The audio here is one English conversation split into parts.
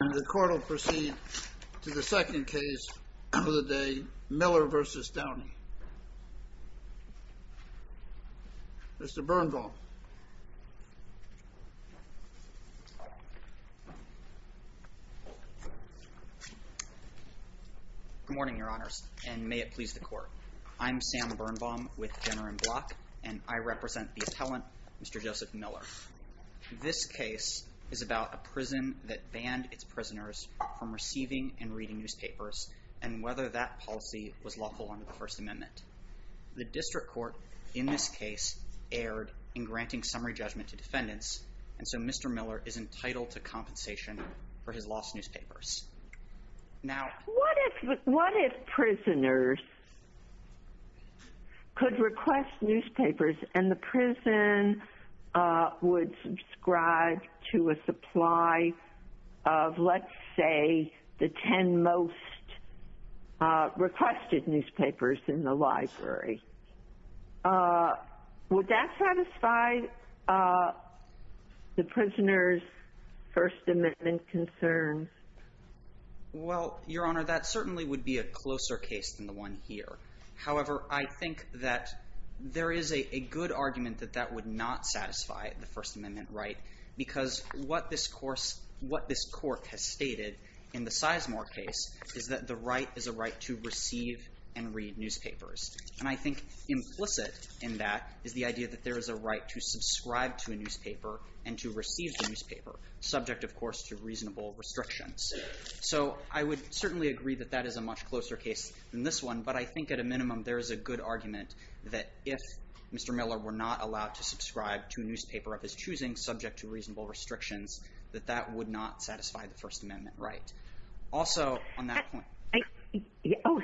And the court will proceed to the second case of the day, Miller v. Downey. Mr. Birnbaum. Good morning, your honors, and may it please the court. I'm Sam Birnbaum with Jenner & Block, and I represent the appellant, Mr. Joseph Miller. This case is about a prison that banned its prisoners from receiving and reading newspapers, and whether that policy was lawful under the First Amendment. The district court in this case erred in granting summary judgment to defendants, and so Mr. Miller is entitled to compensation for his lost newspapers. What if prisoners could request newspapers and the prison would subscribe to a supply of, let's say, the 10 most requested newspapers in the library? Would that satisfy the prisoner's First Amendment concerns? Well, your honor, that certainly would be a closer case than the one here. However, I think that there is a good argument that that would not satisfy the First Amendment right because what this court has stated in the Sizemore case is that the right is a right to receive and read newspapers. And I think implicit in that is the idea that there is a right to subscribe to a newspaper and to receive the newspaper, subject, of course, to reasonable restrictions. So I would certainly agree that that is a much closer case than this one, but I think at a minimum there is a good argument that if Mr. Miller were not allowed to subscribe to a newspaper of his choosing, subject to reasonable restrictions, that that would not satisfy the First Amendment right. Oh,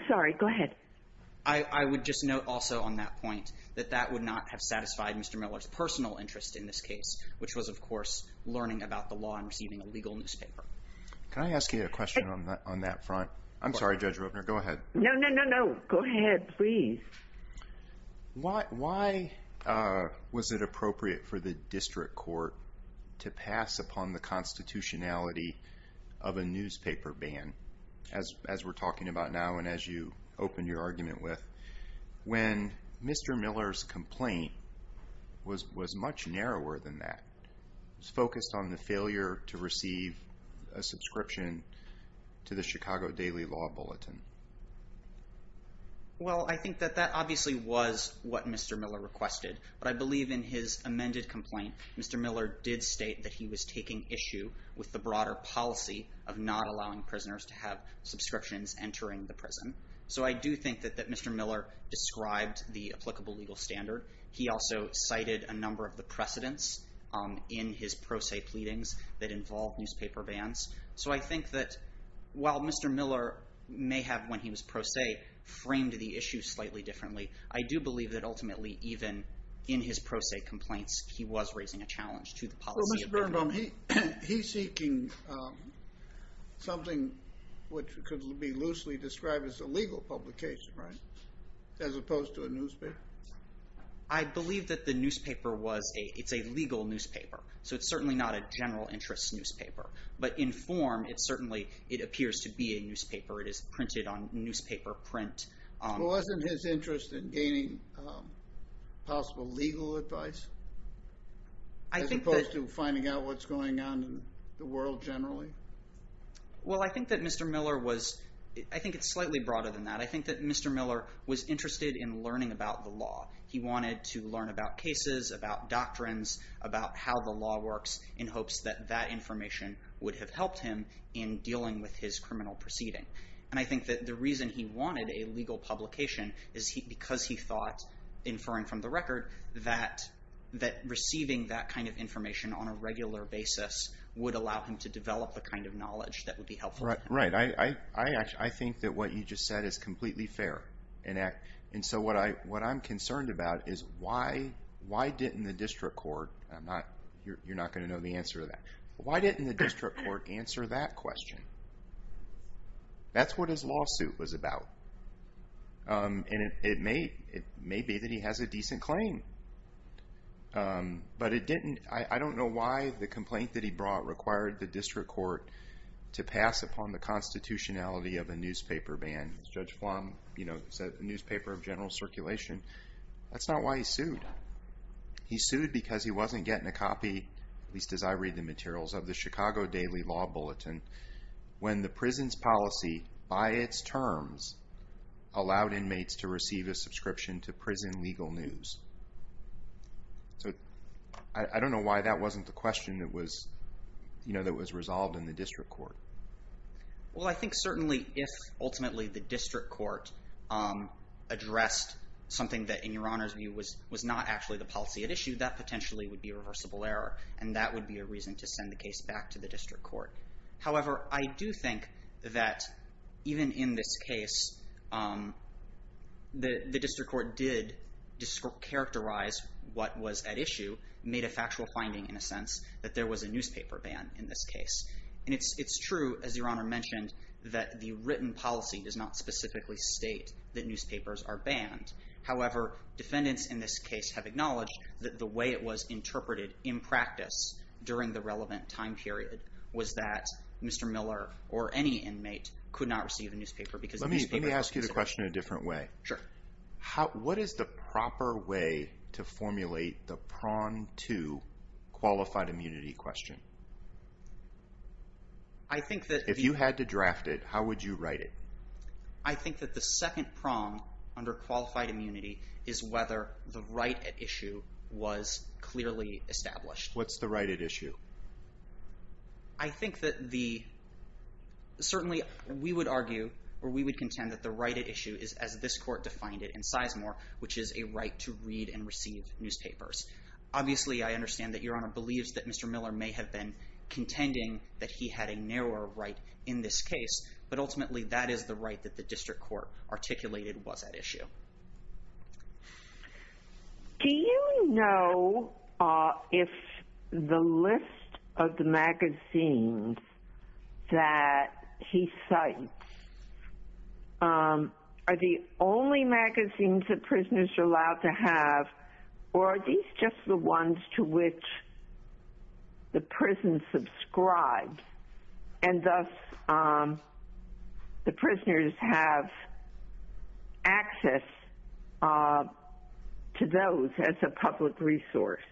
sorry, go ahead. I would just note also on that point that that would not have satisfied Mr. Miller's personal interest in this case, which was, of course, learning about the law and receiving a legal newspaper. Can I ask you a question on that front? I'm sorry, Judge Robner, go ahead. No, no, no, no, go ahead, please. Why was it appropriate for the district court to pass upon the constitutionality of a newspaper ban, as we're talking about now and as you opened your argument with, when Mr. Miller's complaint was much narrower than that, focused on the failure to receive a subscription to the Chicago Daily Law Bulletin? Well, I think that that obviously was what Mr. Miller requested, but I believe in his amended complaint, Mr. Miller did state that he was taking issue with the broader policy of not allowing prisoners to have subscriptions entering the prison. So I do think that Mr. Miller described the applicable legal standard. He also cited a number of the precedents in his pro se pleadings that involved newspaper bans. So I think that while Mr. Miller may have, when he was pro se, framed the issue slightly differently, I do believe that ultimately, even in his pro se complaints, he was raising a challenge to the policy. Well, Mr. Birnbaum, he's seeking something which could be loosely described as a legal publication, right, as opposed to a newspaper? I believe that the newspaper was a, it's a legal newspaper. So it's certainly not a general interest newspaper, but in form, it certainly, it appears to be a newspaper. It is printed on newspaper print. Wasn't his interest in gaining possible legal advice? As opposed to finding out what's going on in the world generally? Well, I think that Mr. Miller was, I think it's slightly broader than that. I think that Mr. Miller was interested in learning about the law. He wanted to learn about cases, about doctrines, about how the law works, in hopes that that information would have helped him in dealing with his criminal proceeding. And I think that the reason he wanted a legal publication is because he thought, inferring from the record, that receiving that kind of information on a regular basis would allow him to develop the kind of knowledge that would be helpful to him. I think that what you just said is completely fair. And so what I'm concerned about is why didn't the district court, you're not going to know the answer to that, why didn't the district court answer that question? That's what his lawsuit was about. And it may be that he has a decent claim. But it didn't, I don't know why the complaint that he brought required the district court to pass upon the constitutionality of a newspaper ban. Judge Flom, you know, said the newspaper of general circulation. That's not why he sued. He sued because he wasn't getting a copy, at least as I read the materials, of the Chicago Daily Law Bulletin, when the prison's policy, by its terms, allowed inmates to receive a subscription to prison legal news. So I don't know why that wasn't the question that was, you know, that was resolved in the district court. Well, I think certainly if ultimately the district court addressed something that, in your Honor's view, was not actually the policy at issue, that potentially would be a reversible error. And that would be a reason to send the case back to the district court. However, I do think that even in this case, the district court did characterize what was at issue, made a factual finding in a sense, that there was a newspaper ban in this case. And it's true, as your Honor mentioned, that the written policy does not specifically state that newspapers are banned. However, defendants in this case have acknowledged that the way it was interpreted in practice during the relevant time period was that Mr. Miller or any inmate could not receive a newspaper because newspapers were considered. Let me ask you the question a different way. Sure. What is the proper way to formulate the PRON 2 qualified immunity question? I think that… If you had to draft it, how would you write it? I think that the second prong under qualified immunity is whether the right at issue was clearly established. What's the right at issue? I think that the… Certainly, we would argue or we would contend that the right at issue is as this court defined it in Sizemore, which is a right to read and receive newspapers. Obviously, I understand that your Honor believes that Mr. Miller may have been contending that he had a narrower right in this case. But ultimately, that is the right that the district court articulated was at issue. Do you know if the list of the magazines that he cites are the only magazines that prisoners are allowed to have or are these just the ones to which the prison subscribes? And thus, the prisoners have access to those as a public resource.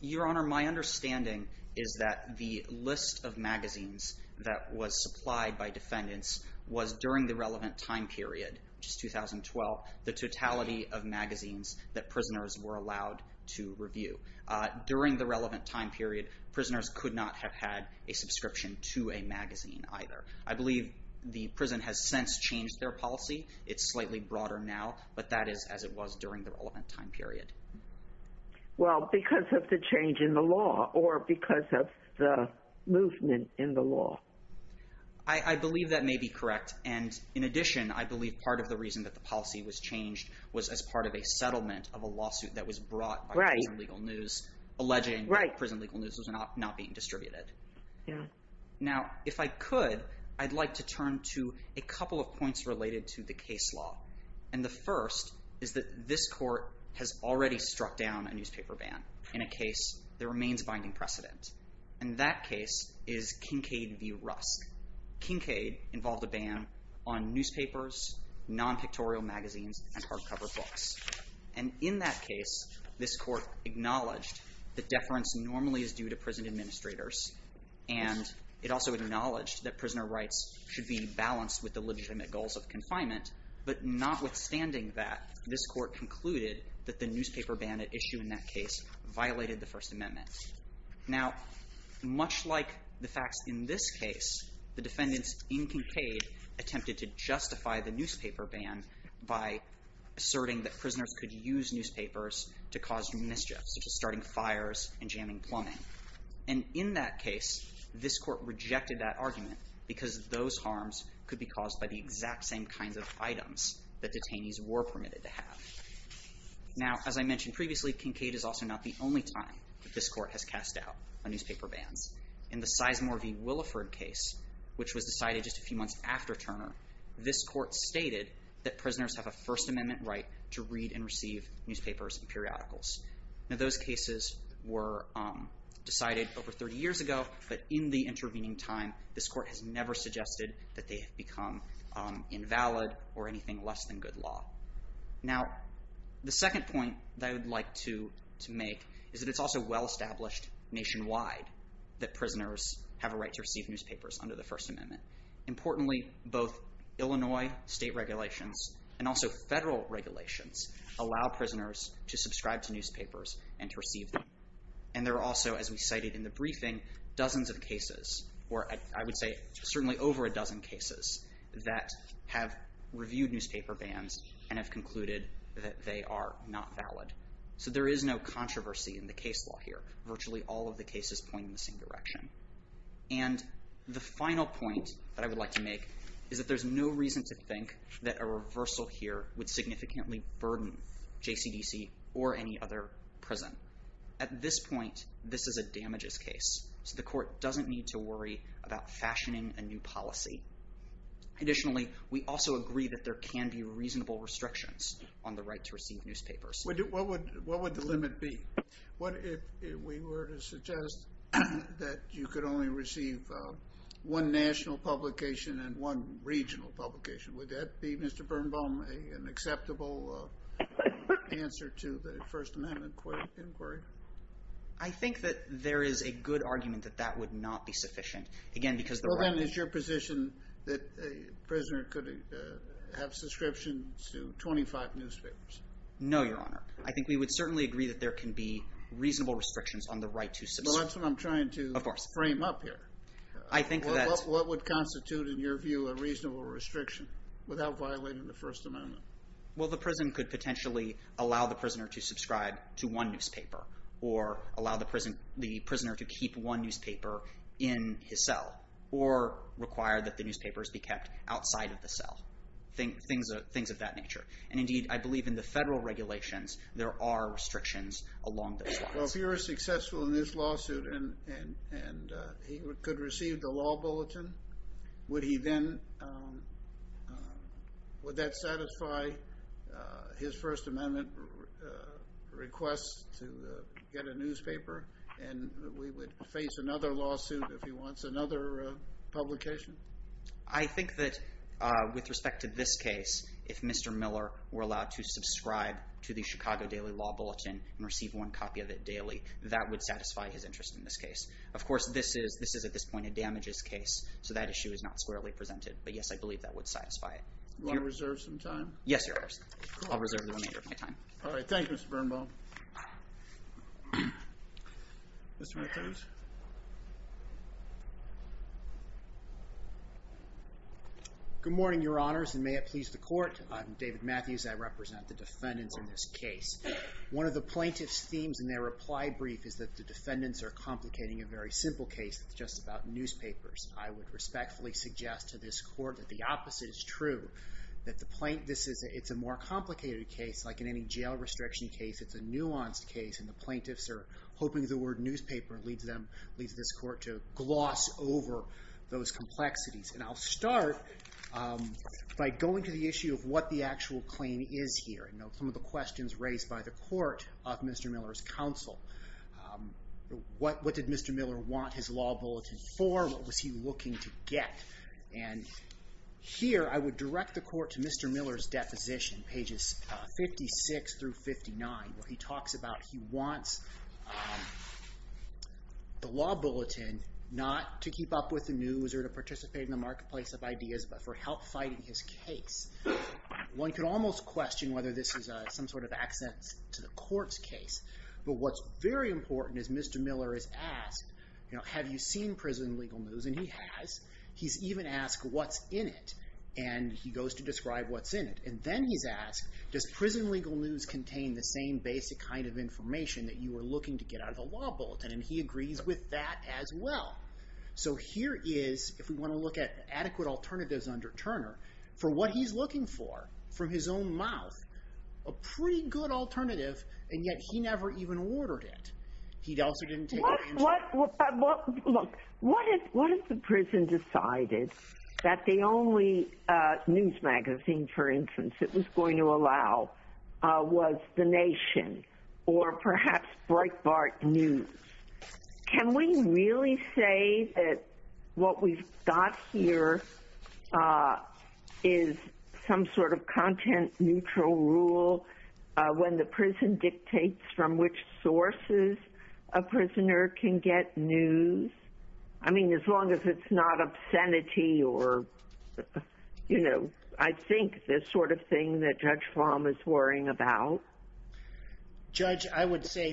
Your Honor, my understanding is that the list of magazines that was supplied by defendants was during the relevant time period, which is 2012, the totality of magazines that prisoners were allowed to review. During the relevant time period, prisoners could not have had a subscription to a magazine either. I believe the prison has since changed their policy. It's slightly broader now, but that is as it was during the relevant time period. Well, because of the change in the law or because of the movement in the law. I believe that may be correct. And in addition, I believe part of the reason that the policy was changed was as part of a settlement of a lawsuit that was brought by prison legal news alleging prison legal news was not being distributed. Now, if I could, I'd like to turn to a couple of points related to the case law. And the first is that this court has already struck down a newspaper ban in a case that remains binding precedent. And that case is Kincade v. Rust. Kincade involved a ban on newspapers, non-pictorial magazines, and hardcover books. And in that case, this court acknowledged that deference normally is due to prison administrators. And it also acknowledged that prisoner rights should be balanced with the legitimate goals of confinement. But notwithstanding that, this court concluded that the newspaper ban at issue in that case violated the First Amendment. Now, much like the facts in this case, the defendants in Kincade attempted to justify the newspaper ban by asserting that prisoners could use newspapers to cause mischief, such as starting fires and jamming plumbing. And in that case, this court rejected that argument because those harms could be caused by the exact same kinds of items that detainees were permitted to have. Now, as I mentioned previously, Kincade is also not the only time that this court has cast out newspaper bans. In the Sizemore v. Williford case, which was decided just a few months after Turner, this court stated that prisoners have a First Amendment right to read and receive newspapers and periodicals. Now, those cases were decided over 30 years ago, but in the intervening time, this court has never suggested that they have become invalid or anything less than good law. Now, the second point that I would like to make is that it's also well-established nationwide that prisoners have a right to receive newspapers under the First Amendment. Importantly, both Illinois state regulations and also federal regulations allow prisoners to subscribe to newspapers and to receive them. And there are also, as we cited in the briefing, dozens of cases, or I would say certainly over a dozen cases, that have reviewed newspaper bans and have concluded that they are not valid. So there is no controversy in the case law here. Virtually all of the cases point in the same direction. And the final point that I would like to make is that there's no reason to think that a reversal here would significantly burden JCDC or any other prison. At this point, this is a damages case, so the court doesn't need to worry about fashioning a new policy. Additionally, we also agree that there can be reasonable restrictions on the right to receive newspapers. What would the limit be? What if we were to suggest that you could only receive one national publication and one regional publication? Would that be, Mr. Birnbaum, an acceptable answer to the First Amendment inquiry? I think that there is a good argument that that would not be sufficient. Well, then, is your position that a prisoner could have subscriptions to 25 newspapers? No, Your Honor. I think we would certainly agree that there can be reasonable restrictions on the right to subscribe. Well, that's what I'm trying to frame up here. I think that… What would constitute, in your view, a reasonable restriction without violating the First Amendment? Well, the prison could potentially allow the prisoner to subscribe to one newspaper or allow the prisoner to keep one newspaper in his cell or require that the newspapers be kept outside of the cell, things of that nature. And indeed, I believe in the federal regulations, there are restrictions along those lines. Well, if you were successful in this lawsuit and he could receive the law bulletin, would he then… Would that satisfy his First Amendment request to get a newspaper? And we would face another lawsuit if he wants another publication? I think that with respect to this case, if Mr. Miller were allowed to subscribe to the Chicago Daily Law Bulletin and receive one copy of it daily, that would satisfy his interest in this case. Of course, this is, at this point, a damages case, so that issue is not squarely presented. But, yes, I believe that would satisfy it. Do you want to reserve some time? Yes, Your Honor. I'll reserve the remainder of my time. All right. Thank you, Mr. Birnbaum. Mr. McTerms? Good morning, Your Honors, and may it please the Court. I'm David Matthews. I represent the defendants in this case. One of the plaintiff's themes in their reply brief is that the defendants are complicating a very simple case that's just about newspapers. I would respectfully suggest to this Court that the opposite is true, that the plaintiffs… It's a more complicated case. Like in any jail restriction case, it's a nuanced case, and the plaintiffs are hoping the word newspaper leads this Court to gloss over those complexities. I'll start by going to the issue of what the actual claim is here and some of the questions raised by the Court of Mr. Miller's counsel. What did Mr. Miller want his law bulletin for? What was he looking to get? Here, I would direct the Court to Mr. Miller's deposition, pages 56 through 59, where he talks about he wants the law bulletin not to keep up with the news or to participate in the marketplace of ideas, but for help fighting his case. One could almost question whether this is some sort of accent to the Court's case, but what's very important is Mr. Miller is asked, have you seen prison legal news? And he has. He's even asked what's in it, and he goes to describe what's in it. And then he's asked, does prison legal news contain the same basic kind of information that you were looking to get out of the law bulletin? And he agrees with that as well. So here is, if we want to look at adequate alternatives under Turner, for what he's looking for from his own mouth, a pretty good alternative, and yet he never even ordered it. He also didn't take the answer. Look, what if the prison decided that the only news magazine, for instance, that was going to allow was The Nation or perhaps Breitbart News? Can we really say that what we've got here is some sort of content-neutral rule when the prison dictates from which sources a prisoner can get news? I mean, as long as it's not obscenity or, you know, I think the sort of thing that Judge Flom is worrying about. Judge, I would say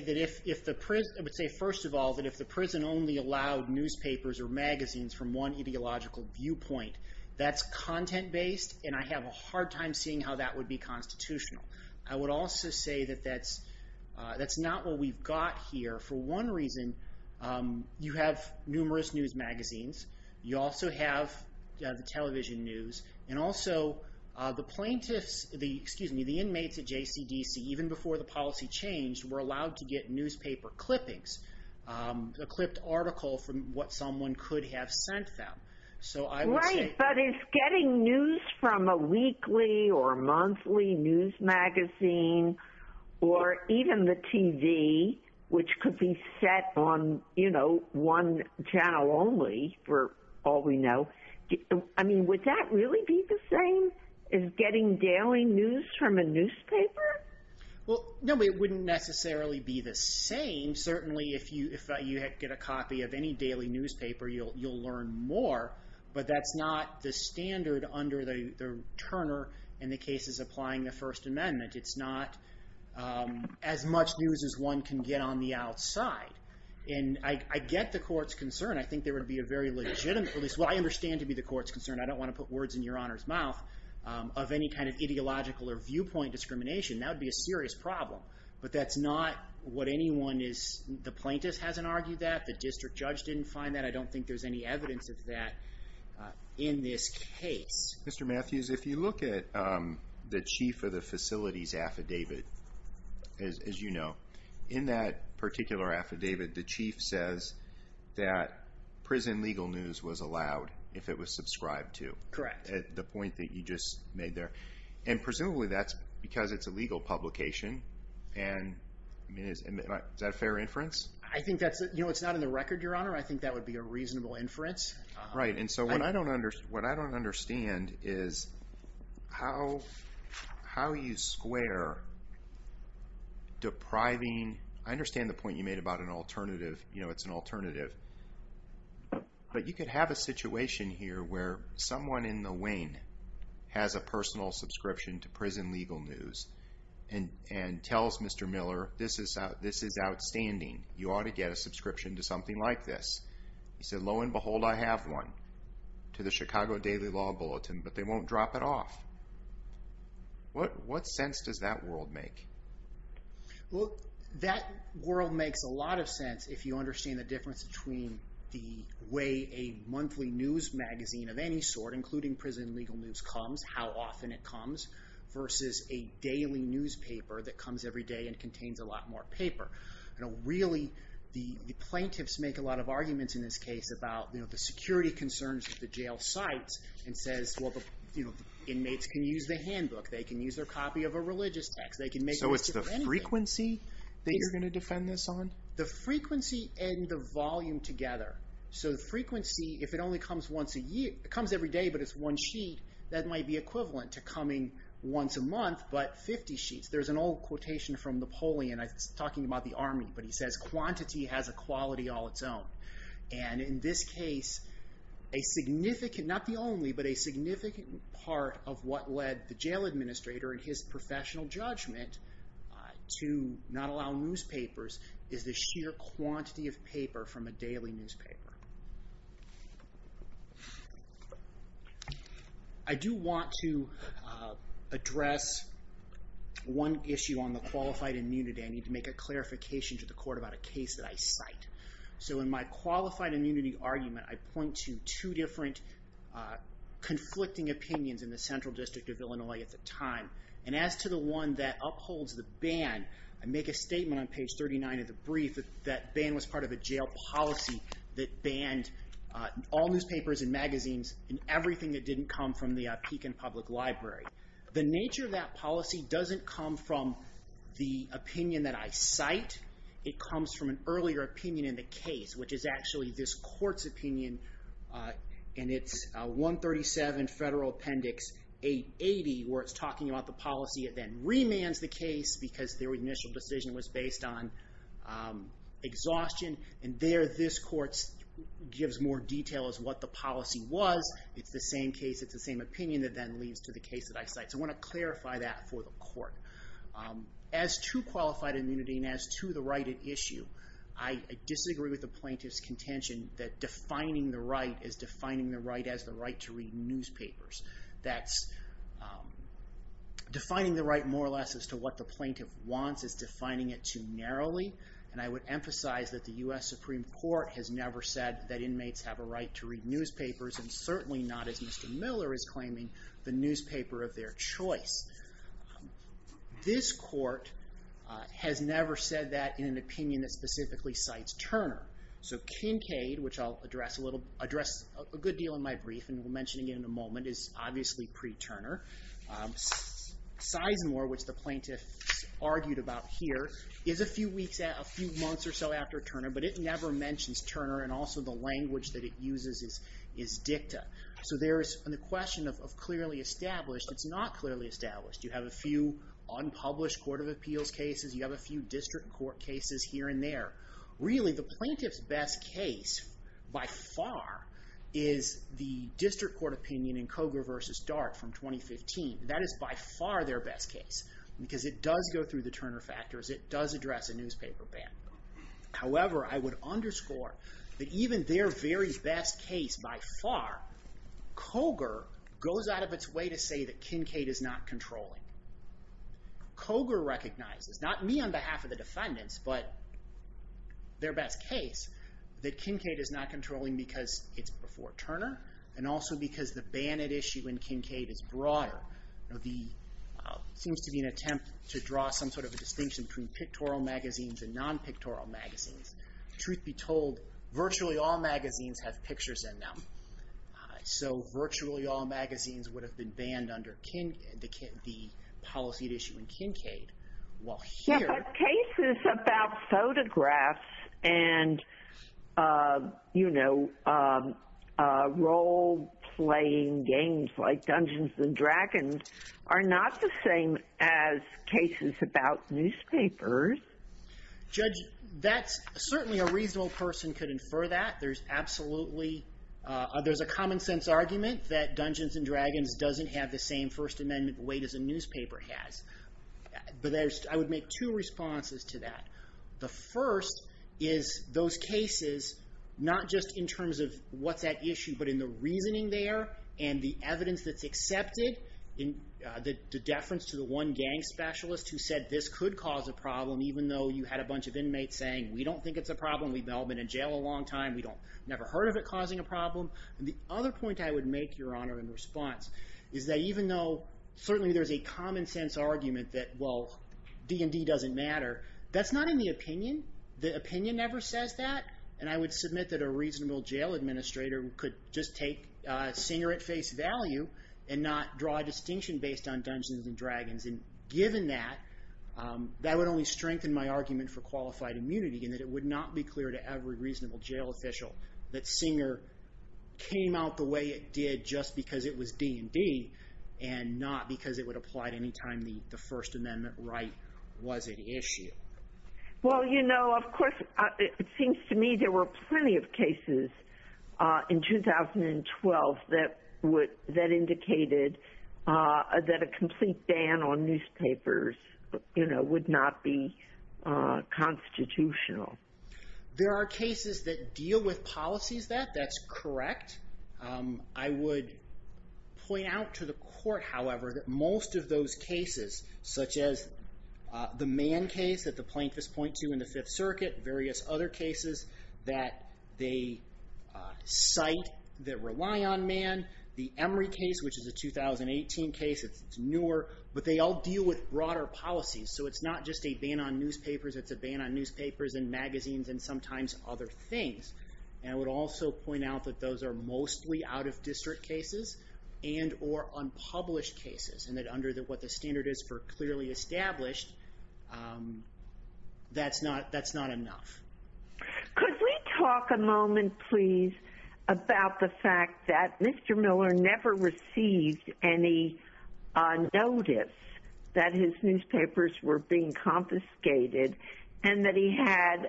first of all that if the prison only allowed newspapers or magazines from one ideological viewpoint, that's content-based, and I have a hard time seeing how that would be constitutional. I would also say that that's not what we've got here. For one reason, you have numerous news magazines. You also have the television news. And also, the inmates at JCDC, even before the policy changed, were allowed to get newspaper clippings, a clipped article from what someone could have sent them. Right, but is getting news from a weekly or monthly news magazine or even the TV, which could be set on, you know, one channel only for all we know, I mean, would that really be the same as getting daily news from a newspaper? Well, no, it wouldn't necessarily be the same. I mean, certainly if you get a copy of any daily newspaper, you'll learn more, but that's not the standard under the Turner in the cases applying the First Amendment. It's not as much news as one can get on the outside. And I get the court's concern. I think there would be a very legitimate, at least what I understand to be the court's concern, I don't want to put words in Your Honor's mouth, of any kind of ideological or viewpoint discrimination. That would be a serious problem. But that's not what anyone is, the plaintiff hasn't argued that. The district judge didn't find that. I don't think there's any evidence of that in this case. Mr. Matthews, if you look at the chief of the facilities affidavit, as you know, in that particular affidavit, the chief says that prison legal news was allowed if it was subscribed to. Correct. The point that you just made there. And presumably that's because it's a legal publication. And is that a fair inference? I think that's, you know, it's not in the record, Your Honor. I think that would be a reasonable inference. Right. And so what I don't understand is how you square depriving, I understand the point you made about an alternative, you know, it's an alternative. But you could have a situation here where someone in the wing has a personal subscription to prison legal news and tells Mr. Miller, this is outstanding, you ought to get a subscription to something like this. He said, lo and behold, I have one, to the Chicago Daily Law Bulletin, but they won't drop it off. What sense does that world make? Well, that world makes a lot of sense if you understand the difference between the way a monthly news magazine of any sort, including prison legal news, comes, how often it comes, versus a daily newspaper that comes every day and contains a lot more paper. Really, the plaintiffs make a lot of arguments in this case about the security concerns that the jail cites and says, well, the inmates can use the handbook, they can use their copy of a religious text. So it's the frequency that you're going to defend this on? The frequency and the volume together. So the frequency, if it only comes once a year, if it comes every day but it's one sheet, that might be equivalent to coming once a month, but 50 sheets. There's an old quotation from Napoleon, it's talking about the army, but he says, quantity has a quality all its own. And in this case, a significant, not the only, but a significant part of what led the jail administrator in his professional judgment to not allow newspapers is the sheer quantity of paper from a daily newspaper. I do want to address one issue on the qualified immunity. I need to make a clarification to the court about a case that I cite. So in my qualified immunity argument, I point to two different conflicting opinions in the Central District of Illinois at the time. And as to the one that upholds the ban, I make a statement on page 39 of the brief that that ban was part of a jail policy that banned all newspapers and magazines and everything that didn't come from the Pekin Public Library. The nature of that policy doesn't come from the opinion that I cite. It comes from an earlier opinion in the case, which is actually this court's opinion, and it's 137 Federal Appendix 880, where it's talking about the policy that then remands the case because their initial decision was based on exhaustion. And there this court gives more detail as to what the policy was. It's the same case, it's the same opinion that then leads to the case that I cite. So I want to clarify that for the court. As to qualified immunity and as to the right at issue, I disagree with the plaintiff's contention that defining the right is defining the right as the right to read newspapers. That's defining the right more or less as to what the plaintiff wants is defining it too narrowly. And I would emphasize that the U.S. Supreme Court has never said that inmates have a right to read newspapers and certainly not, as Mr. Miller is claiming, the newspaper of their choice. This court has never said that in an opinion that specifically cites Turner. So Kincaid, which I'll address a good deal in my brief and will mention again in a moment, is obviously pre-Turner. Sizemore, which the plaintiff argued about here, is a few months or so after Turner, but it never mentions Turner and also the language that it uses is dicta. So there is the question of clearly established. It's not clearly established. You have a few unpublished court of appeals cases, you have a few district court cases here and there. Really, the plaintiff's best case, by far, is the district court opinion in Koger v. Dart from 2015. That is by far their best case because it does go through the Turner factors, it does address a newspaper ban. However, I would underscore that even their very best case, by far, Koger goes out of its way to say that Kincaid is not controlling. Koger recognizes, not me on behalf of the defendants, but their best case, that Kincaid is not controlling because it's before Turner and also because the ban at issue in Kincaid is broader. There seems to be an attempt to draw some sort of a distinction between pictorial magazines and non-pictorial magazines. Truth be told, virtually all magazines have pictures in them. So virtually all magazines would have been banned under the policy at issue in Kincaid, while here... Yeah, but cases about photographs and, you know, role-playing games like Dungeons & Dragons are not the same as cases about newspapers. Judge, that's... Certainly a reasonable person could infer that. There's absolutely... There's a common-sense argument that Dungeons & Dragons doesn't have the same First Amendment weight as a newspaper has. But I would make two responses to that. The first is those cases, not just in terms of what's at issue, but in the reasoning there and the evidence that's accepted, the deference to the one gang specialist who said this could cause a problem, even though you had a bunch of inmates saying, we don't think it's a problem, we've all been in jail a long time, we've never heard of it causing a problem. The other point I would make, Your Honor, in response, is that even though certainly there's a common-sense argument that, well, D&D doesn't matter, that's not in the opinion. The opinion never says that. And I would submit that a reasonable jail administrator could just take Singer at face value and not draw a distinction based on Dungeons & Dragons. And given that, that would only strengthen my argument for qualified immunity in that it would not be clear to every reasonable jail official that Singer came out the way it did just because it was D&D and not because it would apply at any time the First Amendment right was at issue. Well, you know, of course, it seems to me there were plenty of cases in 2012 that indicated that a complete ban on newspapers, you know, would not be constitutional. There are cases that deal with policies that, that's correct. I would point out to the court, however, that most of those cases, such as the Mann case that the plaintiffs point to in the Fifth Circuit, various other cases, that they cite that rely on Mann. The Emory case, which is a 2018 case, it's newer, but they all deal with broader policies. So it's not just a ban on newspapers, it's a ban on newspapers and magazines and sometimes other things. And I would also point out that those are mostly out of district cases and or unpublished cases and that under what the standard is for clearly established, that's not enough. Could we talk a moment, please, about the fact that Mr. Miller never received any notice that his newspapers were being confiscated and that he had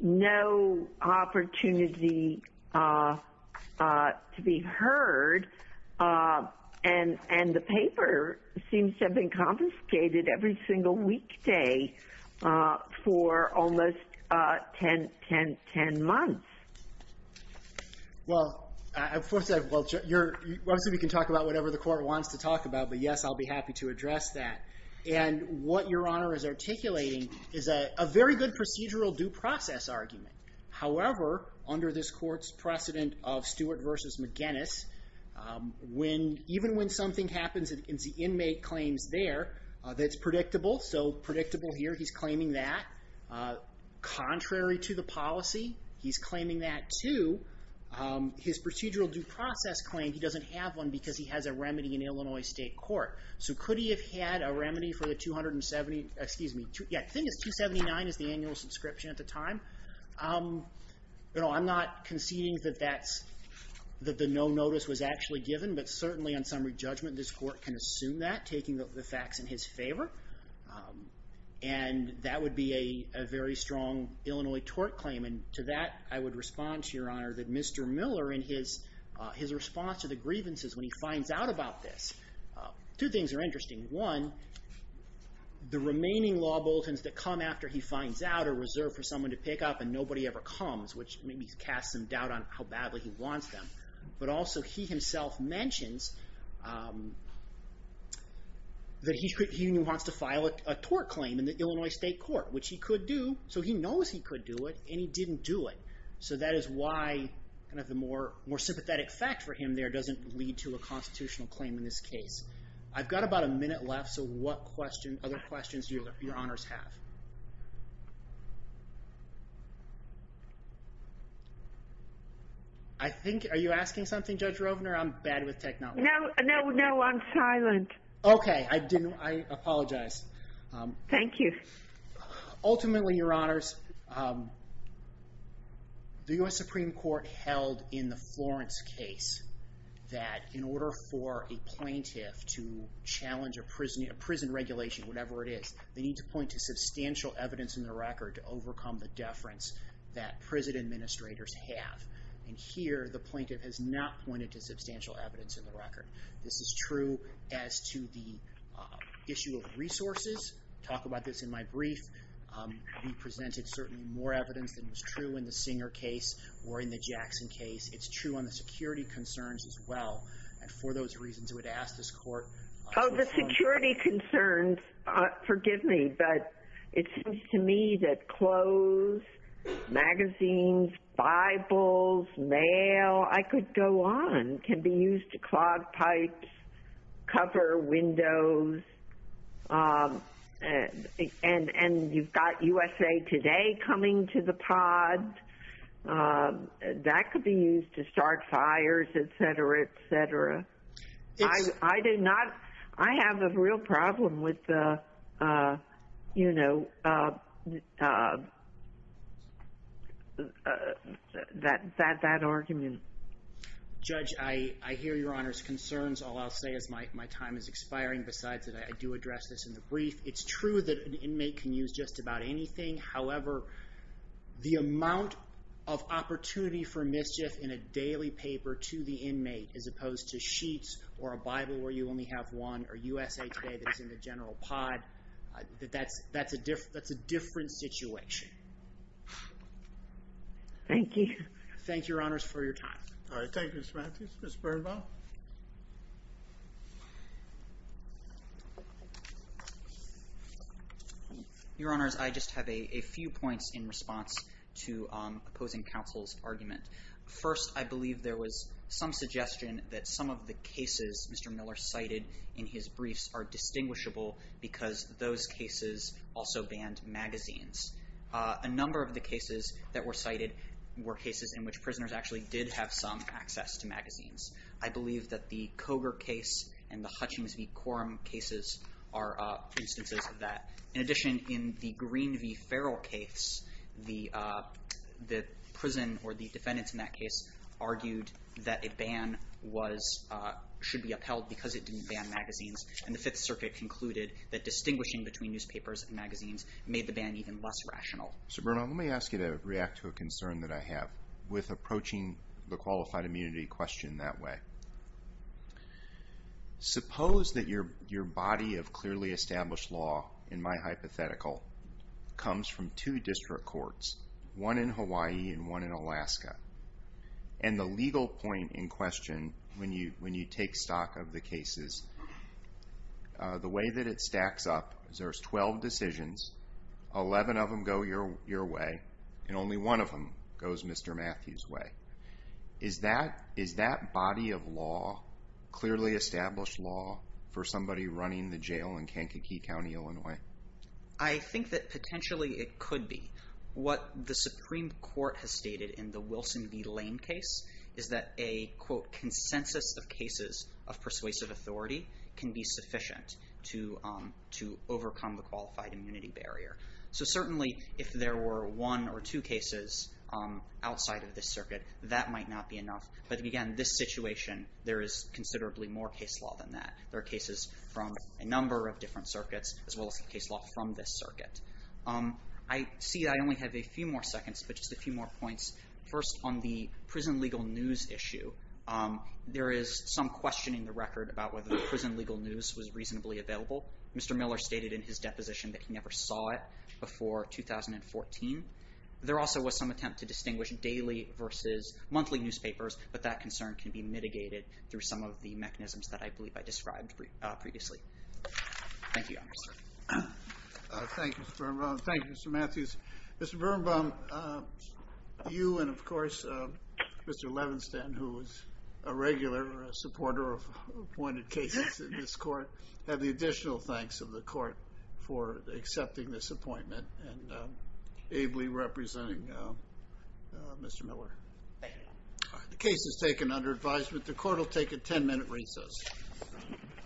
no opportunity to be heard and the paper seems to have been confiscated every single weekday for almost 10 months. Well, obviously we can talk about whatever the court wants to talk about, but yes, I'll be happy to address that. And what Your Honor is articulating is a very good procedural due process argument. However, under this court's precedent of Stewart v. McGinnis, even when something happens and the inmate claims there that it's predictable, so predictable here, he's claiming that. Contrary to the policy, he's claiming that too. His procedural due process claim, he doesn't have one because he has a remedy in Illinois State Court. So could he have had a remedy for the 270, excuse me, yeah, I think it's 279 is the annual subscription at the time. I'm not conceding that that's, that the no notice was actually given, but certainly on summary judgment, this court can assume that, taking the facts in his favor. And that would be a very strong Illinois tort claim, and to that I would respond to Your Honor that Mr. Miller in his response to the grievances when he finds out about this, two things are interesting. One, the remaining law bulletins that come after he finds out are reserved for someone to pick up and nobody ever comes, which maybe casts some doubt on how badly he wants them. But also he himself mentions that he wants to file a tort claim in the Illinois State Court, which he could do, so he knows he could do it, and he didn't do it. So that is why, kind of the more sympathetic fact for him there doesn't lead to a constitutional claim in this case. I've got about a minute left, so what other questions do your honors have? I think, are you asking something Judge Rovner? Judge Rovner, I'm bad with technology. No, no, I'm silent. Okay, I apologize. Thank you. Ultimately, Your Honors, the U.S. Supreme Court held in the Florence case that in order for a plaintiff to challenge a prison regulation, whatever it is, they need to point to substantial evidence in the record to overcome the deference that prison administrators have. And here the plaintiff has not pointed to substantial evidence in the record. This is true as to the issue of resources. I talk about this in my brief. We presented certainly more evidence than was true in the Singer case or in the Jackson case. It's true on the security concerns as well. And for those reasons, I would ask this Court... Oh, the security concerns, forgive me, but it seems to me that clothes, magazines, Bibles, mail, I could go on, can be used to clog pipes, cover windows, and you've got USA Today coming to the pod. That could be used to start fires, et cetera, et cetera. I do not... I have a real problem with that argument. Judge, I hear Your Honor's concerns. All I'll say is my time is expiring. Besides that, I do address this in the brief. It's true that an inmate can use just about anything. However, the amount of opportunity for mischief in a daily paper to the inmate as opposed to sheets or a Bible where you only have one or USA Today that is in the general pod, that's a different situation. Thank you. Thank you, Your Honors, for your time. All right. Thank you, Mr. Mathews. Mr. Birnbaum. Your Honors, I just have a few points in response to opposing counsel's argument. First, I believe there was some suggestion that some of the cases Mr. Miller cited in his briefs are distinguishable because those cases also banned magazines. A number of the cases that were cited were cases in which prisoners actually did have some access to magazines. I believe that the Coger case and the Hutchings v. Quorum cases are instances of that. In addition, in the Green v. Farrell case, the prison or the defendants in that case argued that a ban should be upheld because it didn't ban magazines, and the Fifth Circuit concluded that distinguishing between newspapers and magazines made the ban even less rational. Mr. Birnbaum, let me ask you to react to a concern that I have with approaching the qualified immunity question that way. Suppose that your body of clearly established law, in my hypothetical, comes from two district courts, one in Hawaii and one in Alaska, and the legal point in question when you take stock of the cases, the way that it stacks up is there's 12 decisions, 11 of them go your way, and only one of them goes Mr. Matthews' way. Is that body of law clearly established law for somebody running the jail in Kankakee County, Illinois? I think that potentially it could be. What the Supreme Court has stated in the Wilson v. Lane case is that a, quote, consensus of cases of persuasive authority can be sufficient to overcome the qualified immunity barrier. So certainly if there were one or two cases outside of this circuit, that might not be enough. But again, this situation, there is considerably more case law than that. There are cases from a number of different circuits as well as case law from this circuit. I see I only have a few more seconds, but just a few more points. First, on the prison legal news issue, there is some question in the record about whether the prison legal news was reasonably available. Mr. Miller stated in his deposition that he never saw it before 2014. There also was some attempt to distinguish daily versus monthly newspapers, but that concern can be mitigated through some of the mechanisms that I believe I described previously. Thank you, Your Honor. Thank you, Mr. Birnbaum. Thank you, Mr. Matthews. Mr. Birnbaum, you and, of course, Mr. Levenstan, who is a regular supporter of appointed cases in this court, have the additional thanks of the court for accepting this appointment and ably representing Mr. Miller. Thank you. The case is taken under advisement. The court will take a 10-minute recess.